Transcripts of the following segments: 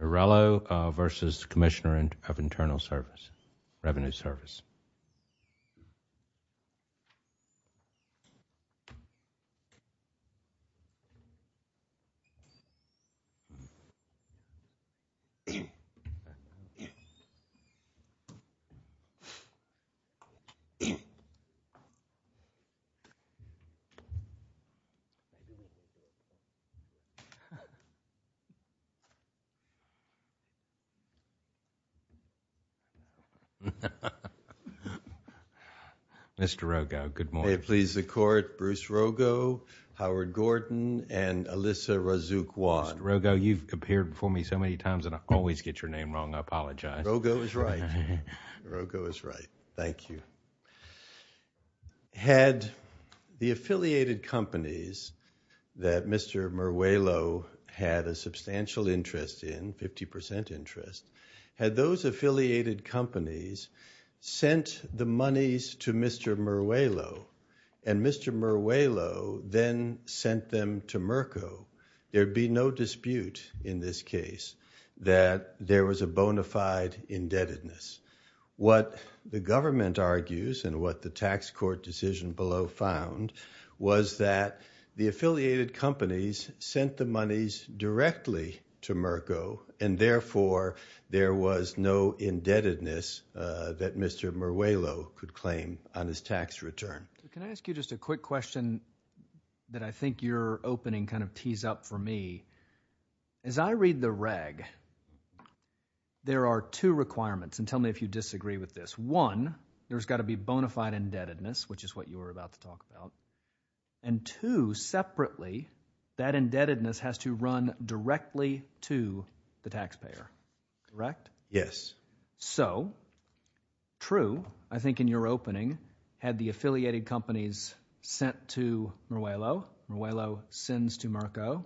Mourelo v Commissioner of Internal Revenue Service Mr. Rogo, good morning. May it please the Court, Bruce Rogo, Howard Gordon, and Alyssa Razukwan. Mr. Rogo, you've appeared before me so many times, and I always get your name wrong. I apologize. Rogo is right. Rogo is right. Thank you. Had the affiliated companies that Mr. Mourelo had a substantial interest in, 50% interest, had those affiliated companies sent the monies to Mr. Mourelo and Mr. Mourelo then sent them to Merco, there'd be no dispute in this case that there was a bona fide indebtedness. What the government argues, and what the tax court decision below found, was that the affiliated companies sent the monies directly to Merco, and therefore there was no indebtedness that Mr. Mourelo could claim on his tax return. Can I ask you just a quick question that I think your opening kind of tees up for me? As I read the reg, there are two requirements, and tell me if you disagree with this. One, there's got to be bona fide indebtedness, which is what you were about to talk about, and two, separately, that indebtedness has to run directly to the taxpayer. Correct? Yes. So, true, I think in your opening, had the affiliated companies sent to Mourelo, Mourelo sends to Merco,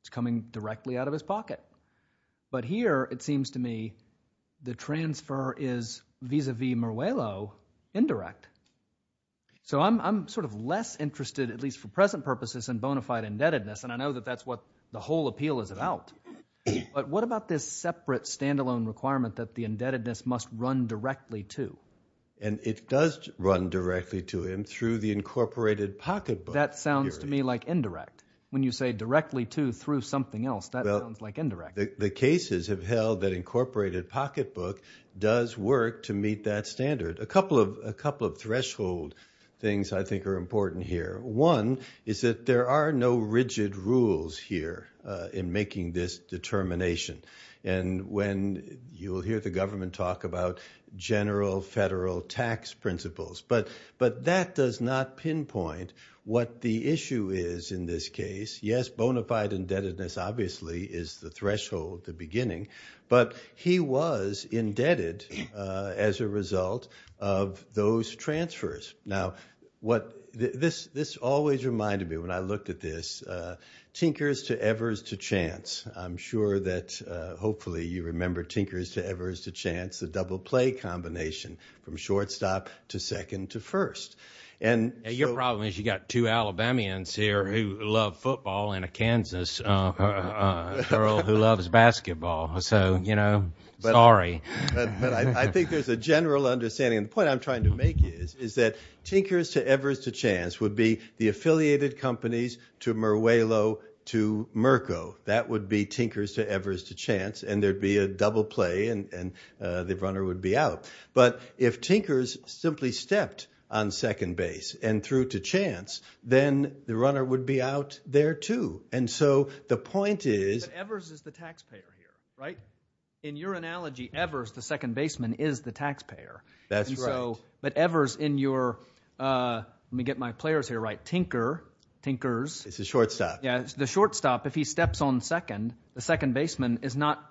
it's coming directly out of his pocket. But here, it seems to me, the transfer is, vis-a-vis Mourelo, indirect. So I'm sort of less interested, at least for present purposes, in bona fide indebtedness, and I know that that's what the whole appeal is about. But what about this separate, standalone requirement that the indebtedness must run directly to? And it does run directly to him through the incorporated pocket book. That sounds to me like indirect. When you say directly to through something else, that sounds like indirect. The cases have held that incorporated pocket book does work to meet that standard. A couple of threshold things I think are important here. One is that there are no rigid rules here in making this determination. And when you'll hear the government talk about general federal tax principles, but that does not pinpoint what the issue is in this case. Yes, bona fide indebtedness obviously is the threshold, the beginning, but he was indebted as a result of those transfers. Now, this always reminded me, when I looked at this, Tinker's to Evers to Chance. I'm sure that hopefully you remember Tinker's to Evers to Chance, the double play combination from shortstop to second to first. Your problem is you've got two Alabamians here who love football and a Kansas girl who loves basketball. So, you know, sorry. I think there's a general understanding, and the point I'm trying to make is that Tinker's to Evers to Chance would be the affiliated companies to Meruelo to Merco. That would be Tinker's to Evers to Chance, and there'd be a double play and the runner would be out. But if Tinker's simply stepped on second base and threw to chance, then the runner would be out there too. And so the point is... But Evers is the taxpayer here, right? In your analogy, Evers, the second baseman, is the taxpayer. That's right. But Evers in your, let me get my players here right, Tinker, Tinker's... It's a shortstop. Yeah, the shortstop, if he steps on second, the second baseman is not,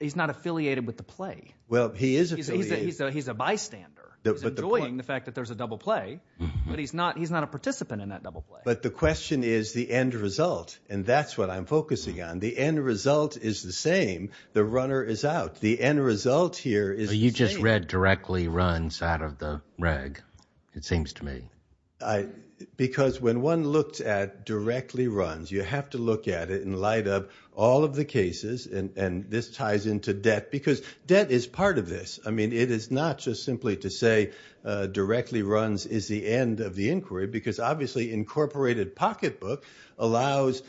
he's not affiliated with the play. Well, he is affiliated. He's a bystander. He's enjoying the fact that there's a double play, but he's not a participant in that double play. But the question is the end result, and that's what I'm focusing on. The end result is the same. The runner is out. The end result here is the same. You just read directly runs out of the reg, it seems to me. Because when one looks at directly runs, you have to look at it in light of all of the I mean, it is not just simply to say, directly runs is the end of the inquiry, because obviously incorporated pocketbook allows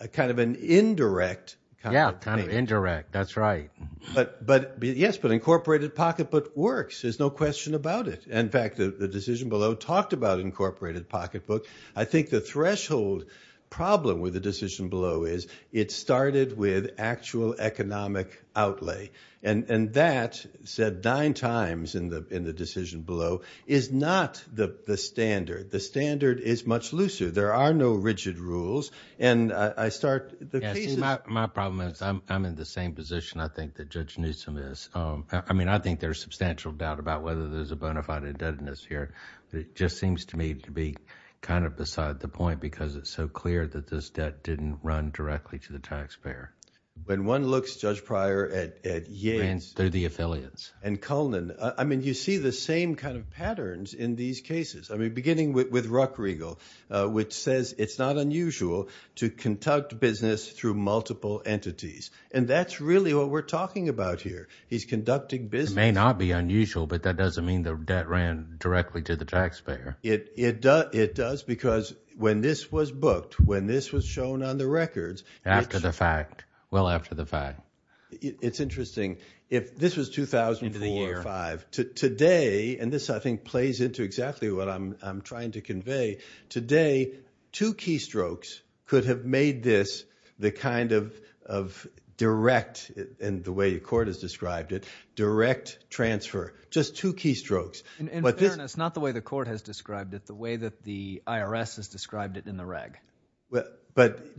a kind of an indirect... Yeah, kind of indirect. That's right. But, yes, but incorporated pocketbook works, there's no question about it. In fact, the decision below talked about incorporated pocketbook. I think the threshold problem with the decision below is it started with actual economic outlay. And that, said nine times in the decision below, is not the standard. The standard is much looser. There are no rigid rules. And I start... Yeah, see, my problem is I'm in the same position, I think, that Judge Newsom is. I mean, I think there's substantial doubt about whether there's a bona fide indebtedness here. It just seems to me to be kind of beside the point because it's so clear that this debt didn't run directly to the taxpayer. When one looks, Judge Pryor, at Yates... Ran through the affiliates. And Cullinan, I mean, you see the same kind of patterns in these cases. I mean, beginning with Ruckriegel, which says it's not unusual to conduct business through multiple entities. And that's really what we're talking about here. He's conducting business... It may not be unusual, but that doesn't mean the debt ran directly to the taxpayer. It does because when this was booked, when this was shown on the records... Well after the fact. Well after the fact. It's interesting. If this was 2004 or 5, today, and this I think plays into exactly what I'm trying to convey, today two keystrokes could have made this the kind of direct, and the way the court has described it, direct transfer. Just two keystrokes. In fairness, not the way the court has described it, the way that the IRS has described it in the reg. But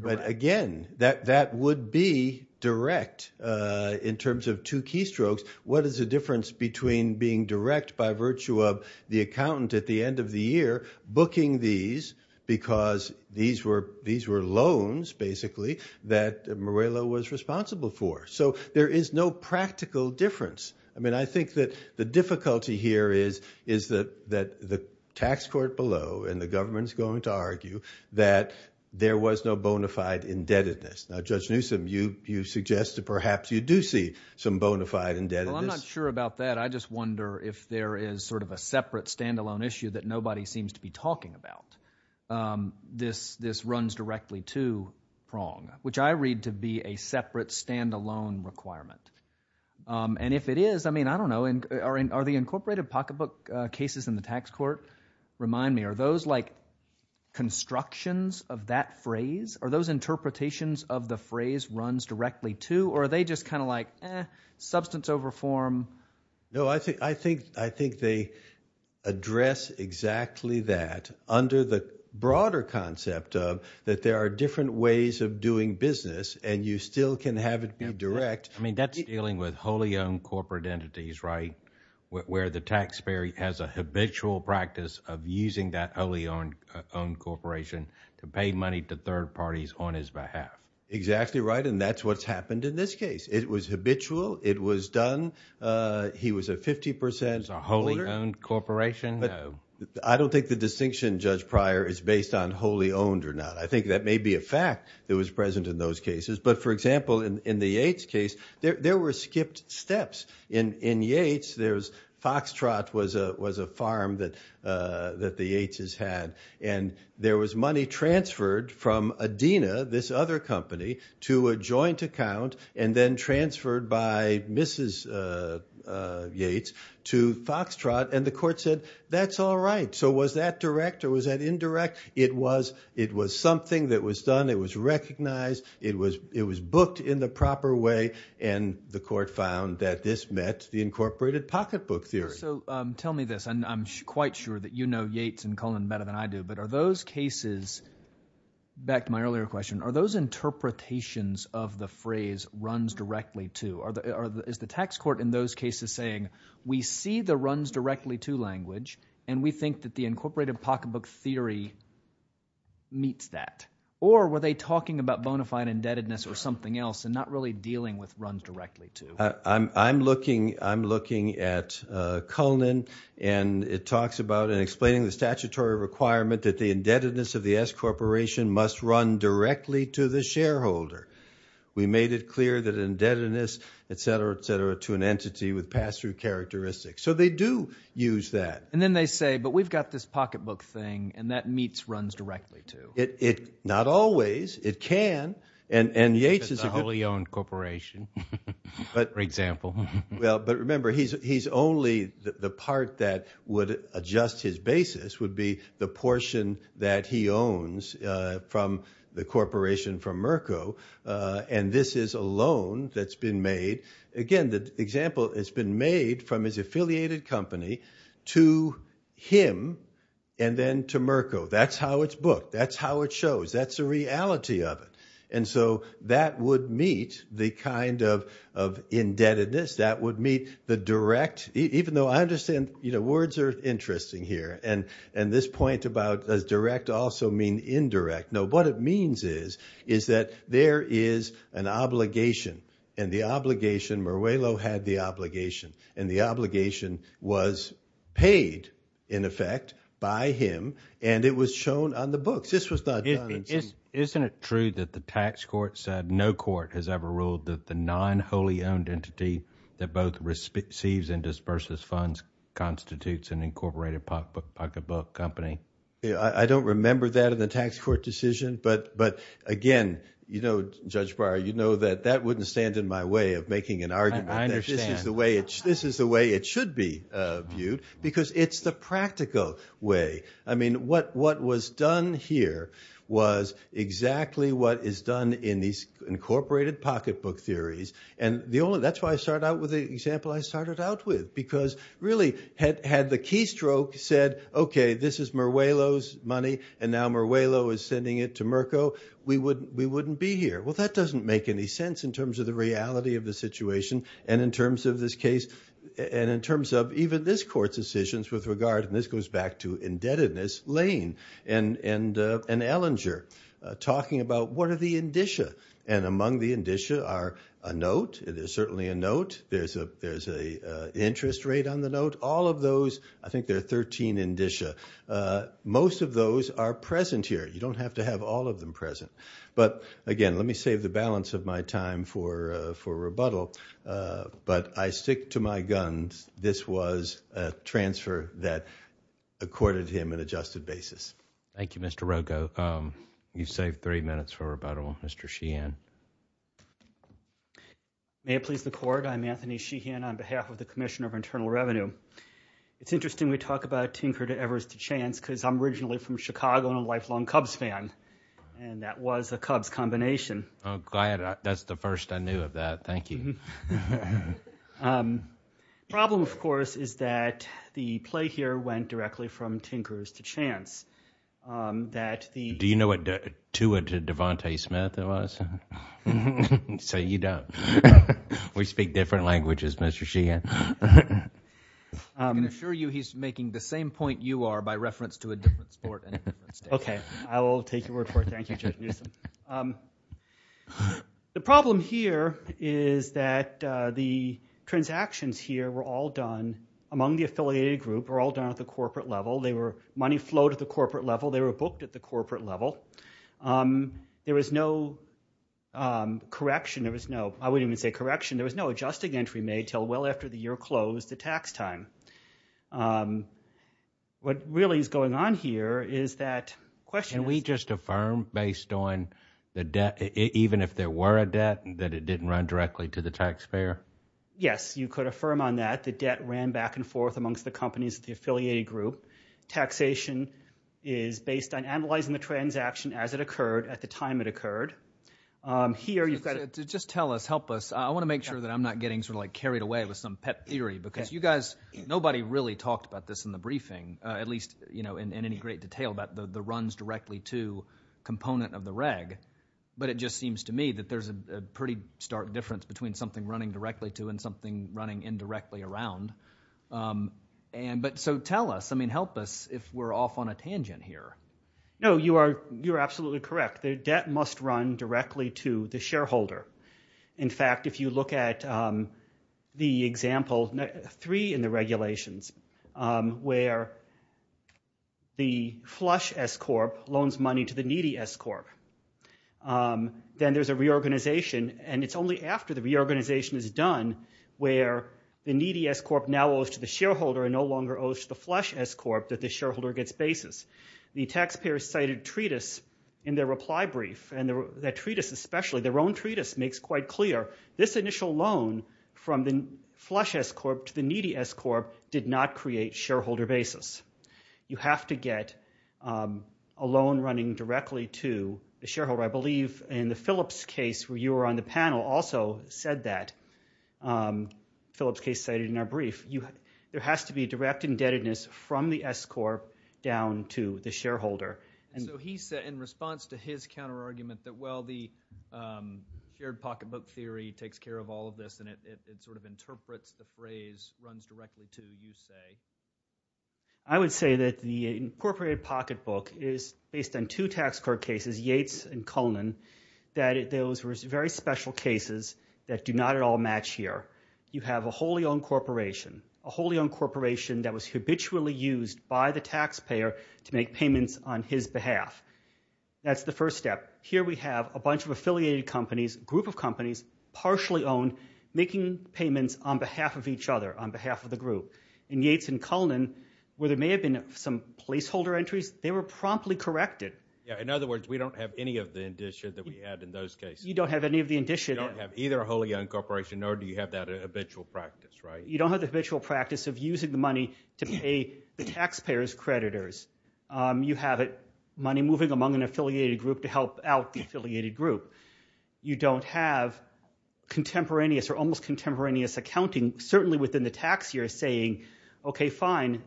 again, that would be direct in terms of two keystrokes. What is the difference between being direct by virtue of the accountant at the end of the year booking these because these were loans, basically, that Morello was responsible for? So there is no practical difference. I mean, I think that the difficulty here is that the tax court below, and the government's going to argue, that there was no bona fide indebtedness. Now Judge Newsom, you suggest that perhaps you do see some bona fide indebtedness. Well I'm not sure about that. I just wonder if there is sort of a separate, standalone issue that nobody seems to be talking about. This runs directly to Prong, which I read to be a separate, standalone requirement. And if it is, I mean, I don't know. Are the incorporated pocketbook cases in the tax court? Remind me, are those like constructions of that phrase? Are those interpretations of the phrase runs directly to? Or are they just kind of like, eh, substance over form? No, I think they address exactly that under the broader concept of that there are different ways of doing business and you still can have it be direct. I mean, that's dealing with wholly owned corporate entities, right? Where the taxpayer has a habitual practice of using that wholly owned corporation to pay money to third parties on his behalf. Exactly right. And that's what's happened in this case. It was habitual. He was a 50% holder. It was a wholly owned corporation? No. I don't think the distinction, Judge Pryor, is based on wholly owned or not. I think that may be a fact that was present in those cases. But for example, in the Yates case, there were skipped steps. In Yates, Foxtrot was a farm that the Yates' had. And there was money transferred from Adina, this other company, to a joint account and then transferred by Mrs. Yates to Foxtrot. And the court said, that's all right. So was that direct or was that indirect? It was something that was done. It was recognized. It was booked in the proper way. And the court found that this met the incorporated pocketbook theory. So tell me this, and I'm quite sure that you know Yates and Cullen better than I do, but are those cases, back to my earlier question, are those interpretations of the phrase runs directly to, is the tax court in those cases saying, we see the runs directly to language and we think that the incorporated pocketbook theory meets that? Or were they talking about bona fide indebtedness or something else and not really dealing with runs directly to? I'm looking at Cullen and it talks about and explaining the statutory requirement that the indebtedness of the S Corporation must run directly to the shareholder. We made it clear that indebtedness, etc., etc., to an entity with pass-through characteristics. So they do use that. And then they say, but we've got this pocketbook thing and that meets runs directly to. Not always. It can. And Yates is a good. It's a wholly owned corporation, for example. Well, but remember, he's only, the part that would adjust his basis would be the portion that he owns from the corporation from Merco. And this is a loan that's been made, again, the example has been made from his affiliated company to him and then to Merco. That's how it's booked. That's how it shows. That's the reality of it. And so that would meet the kind of indebtedness. That would meet the direct, even though I understand, you know, words are interesting here. And this point about, does direct also mean indirect? No. What it means is, is that there is an obligation and the obligation, Meruelo had the obligation and the obligation was paid, in effect, by him and it was shown on the books. This was not done. Isn't it true that the tax court said no court has ever ruled that the non-wholly owned entity that both receives and disburses funds constitutes an incorporated pocket book company? I don't remember that in the tax court decision, but, but again, you know, Judge Breyer, you know that that wouldn't stand in my way of making an argument. I understand. This is the way it's, this is the way it should be viewed because it's the practical way. I mean, what, what was done here was exactly what is done in these incorporated pocket book theories. And the only, that's why I start out with the example I started out with, because really had, had the keystroke said, okay, this is Meruelo's money and now Meruelo is sending it to Merco, we wouldn't, we wouldn't be here. Well, that doesn't make any sense in terms of the reality of the situation and in terms of this case and in terms of even this court's decisions with regard, and this goes back to indebtedness Lane and, and, and Ellinger talking about what are the indicia and among the indicia are a note, there's certainly a note, there's a, there's a interest rate on the note. All of those, I think there are 13 indicia. Most of those are present here. You don't have to have all of them present. But again, let me save the balance of my time for, for rebuttal. But I stick to my guns. This was a transfer that accorded him an adjusted basis. Thank you, Mr. Rogo. You saved three minutes for rebuttal. Mr. Sheehan. May it please the court, I'm Anthony Sheehan on behalf of the Commissioner of Internal Revenue. It's interesting we talk about Tinker to Evers to Chance because I'm originally from Chicago and a lifelong Cubs fan, and that was a Cubs combination. Oh, glad. That's the first I knew of that. Thank you. The problem, of course, is that the play here went directly from Tinkers to Chance. That the- Do you know what to a Devante Smith it was? So you don't. We speak different languages, Mr. Sheehan. I can assure you he's making the same point you are by reference to a different sport and a different state. Okay. I will take your word for it. Thank you, Judge Newsom. The problem here is that the transactions here were all done among the affiliated group, were all done at the corporate level. They were money flowed at the corporate level, they were booked at the corporate level. There was no correction, there was no, I wouldn't even say correction, there was no adjusting entry made until well after the year closed, the tax time. What really is going on here is that- Can we just affirm based on the debt, even if there were a debt, that it didn't run directly to the taxpayer? Yes, you could affirm on that. The debt ran back and forth amongst the companies of the affiliated group. Taxation is based on analyzing the transaction as it occurred at the time it occurred. Here you've got- Just tell us, help us. I want to make sure that I'm not getting sort of like carried away with some pet theory because you guys, nobody really talked about this in the briefing, at least, you know, in any great detail about the runs directly to component of the reg. But it just seems to me that there's a pretty stark difference between something running directly to and something running indirectly around. But so tell us, I mean, help us if we're off on a tangent here. No, you are absolutely correct. The debt must run directly to the shareholder. In fact, if you look at the example three in the regulations where the flush S-corp loans money to the needy S-corp, then there's a reorganization. And it's only after the reorganization is done where the needy S-corp now owes to the shareholder and no longer owes to the flush S-corp that the shareholder gets basis. The taxpayers cited treatise in their reply brief and that treatise especially, their own treatise makes quite clear this initial loan from the flush S-corp to the needy S-corp did not create shareholder basis. You have to get a loan running directly to the shareholder. I believe in the Phillips case where you were on the panel also said that, Phillips case cited in our brief, there has to be direct indebtedness from the S-corp down to the shareholder. And so he said in response to his counter argument that, well, the shared pocket book theory takes care of all of this. And it sort of interprets the phrase runs directly to you say. I would say that the incorporated pocket book is based on two tax court cases, Yates and Cullinan, that those were very special cases that do not at all match here. You have a wholly owned corporation, a wholly owned corporation that was habitually used by the taxpayer to make payments on his behalf. That's the first step. Here we have a bunch of affiliated companies, group of companies, partially owned, making payments on behalf of each other, on behalf of the group. In Yates and Cullinan, where there may have been some placeholder entries, they were promptly corrected. Yeah, in other words, we don't have any of the indicia that we had in those cases. You don't have any of the indicia. You don't have either a wholly owned corporation nor do you have that habitual practice, right? You don't have the habitual practice of using the money to pay the taxpayer's creditors. You have it, money moving among an affiliated group to help out the affiliated group. You don't have contemporaneous or almost contemporaneous accounting, certainly within the tax year, saying, okay, fine,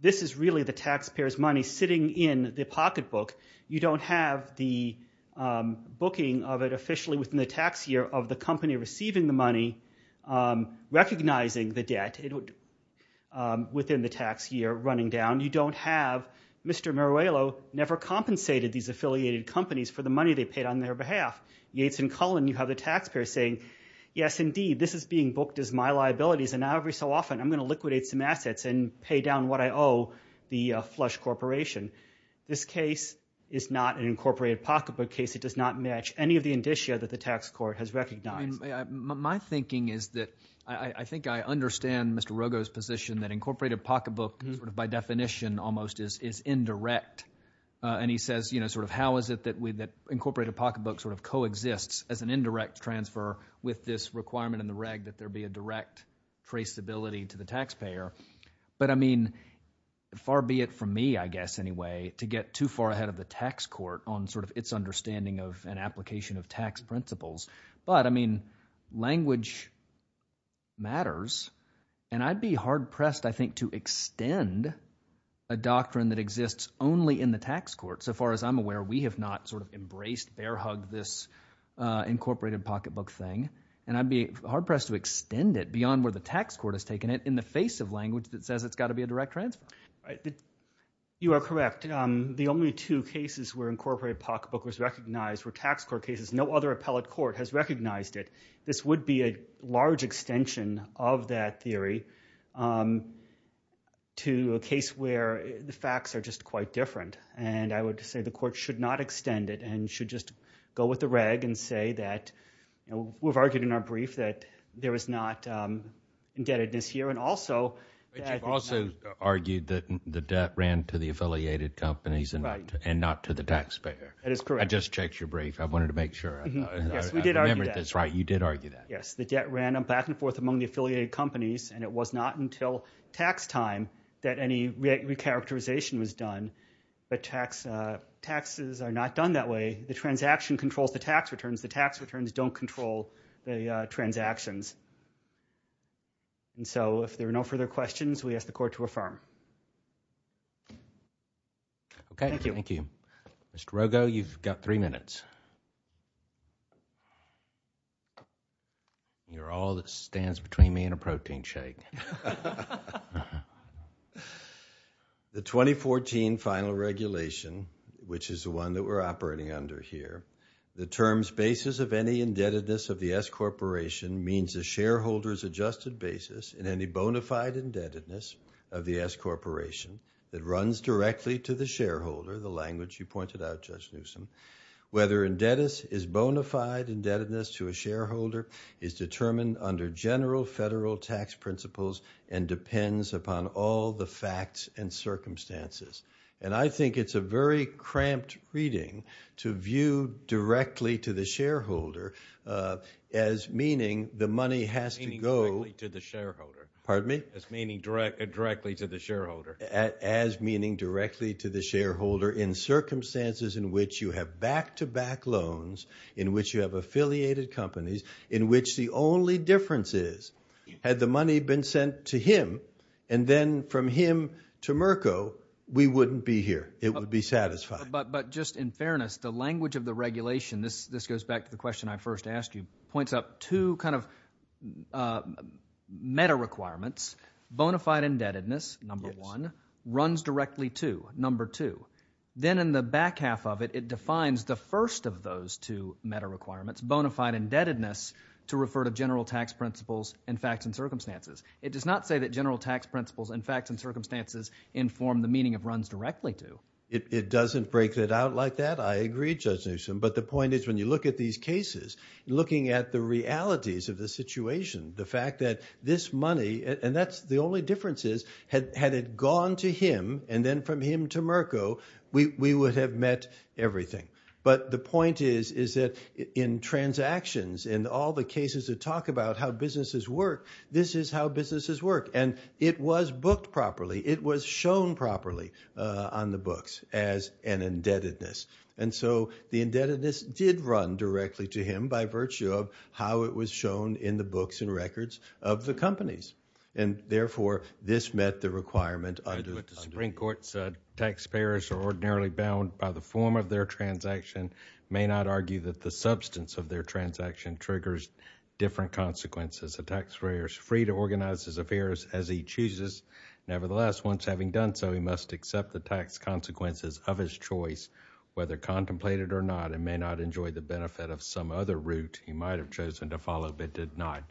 this is really the taxpayer's money sitting in the pocket book. You don't have the booking of it officially within the tax year of the company receiving the money, recognizing the debt within the tax year running down. You don't have Mr. Meruelo never compensated these affiliated companies for the money they paid on their behalf. Yates and Cullinan, you have the taxpayer saying, yes, indeed, this is being booked as my liabilities and now every so often I'm going to liquidate some assets and pay down what I owe the flush corporation. This case is not an incorporated pocket book case. It does not match any of the indicia that the tax court has recognized. My thinking is that I think I understand Mr. Rogo's position that incorporated pocket book by definition almost is indirect. And he says, how is it that incorporated pocket book coexists as an indirect transfer with this requirement in the reg that there be a direct traceability to the taxpayer? But I mean, far be it from me, I guess anyway, to get too far ahead of the tax court on its understanding of an application of tax principles. But I mean, language matters, and I'd be hard pressed, I think, to extend a doctrine that exists only in the tax court. So far as I'm aware, we have not sort of embraced, bear hugged this incorporated pocket book thing. And I'd be hard pressed to extend it beyond where the tax court has taken it in the face of language that says it's got to be a direct transfer. You are correct. The only two cases where incorporated pocket book was recognized were tax court cases. No other appellate court has recognized it. This would be a large extension of that theory to a case where the facts are just quite different. And I would say the court should not extend it and should just go with the reg and say that we've argued in our brief that there is not indebtedness here. And also, that. But you've also argued that the debt ran to the affiliated companies and not to the taxpayer. That is correct. I just checked your brief. I wanted to make sure I remembered this right. You did argue that. Yes. The debt ran back and forth among the affiliated companies. And it was not until tax time that any recharacterization was done. But taxes are not done that way. The transaction controls the tax returns. The tax returns don't control the transactions. And so, if there are no further questions, we ask the court to affirm. Okay. Thank you. Mr. Rogo, you've got three minutes. You're all that stands between me and a protein shake. The 2014 final regulation, which is the one that we're operating under here, the term's basis of any indebtedness of the S Corporation means the shareholder's adjusted basis in any bona fide indebtedness of the S Corporation that runs directly to the shareholder, the language you pointed out, Judge Newsom, whether indebtedness is bona fide indebtedness to a shareholder is determined under general federal tax principles and depends upon all the facts and circumstances. And I think it's a very cramped reading to view directly to the shareholder as meaning the money has to go. Meaning directly to the shareholder. Pardon me? As meaning directly to the shareholder. As meaning directly to the shareholder in circumstances in which you have back-to-back loans, in which you have affiliated companies, in which the only difference is, had the money been sent to him and then from him to Merco, we wouldn't be here. It would be satisfied. But just in fairness, the language of the regulation, this goes back to the question I first asked you, points up two kind of meta requirements. Bona fide indebtedness, number one, runs directly to, number two. Then in the back half of it, it defines the first of those two meta requirements, bona fide indebtedness, to refer to general tax principles and facts and circumstances. It does not say that general tax principles and facts and circumstances inform the meaning of runs directly to. It doesn't break it out like that. I agree, Judge Newsom. But the point is, when you look at these cases, looking at the realities of the situation, the fact that this money, and that's the only difference is, had it gone to him and then from him to Merco, we would have met everything. But the point is, is that in transactions, in all the cases that talk about how businesses work, this is how businesses work. And it was booked properly. It was shown properly on the books as an indebtedness. And so the indebtedness did run directly to him by virtue of how it was shown in the books and records of the companies. And therefore, this met the requirement. I agree with the Supreme Court's taxpayers are ordinarily bound by the form of their transaction, may not argue that the substance of their transaction triggers different consequences. A taxpayer is free to organize his affairs as he chooses. Nevertheless, once having done so, he must accept the tax consequences of his choice, whether contemplated or not, and may not enjoy the benefit of some other route he might have chosen to follow but did not.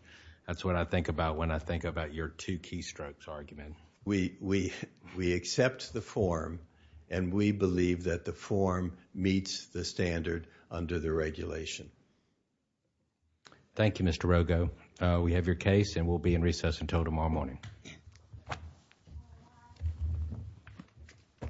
That's what I think about when I think about your two keystrokes argument. We accept the form and we believe that the form meets the standard under the regulation. Thank you, Mr. Rogo. We have your case and we'll be in recess until tomorrow morning.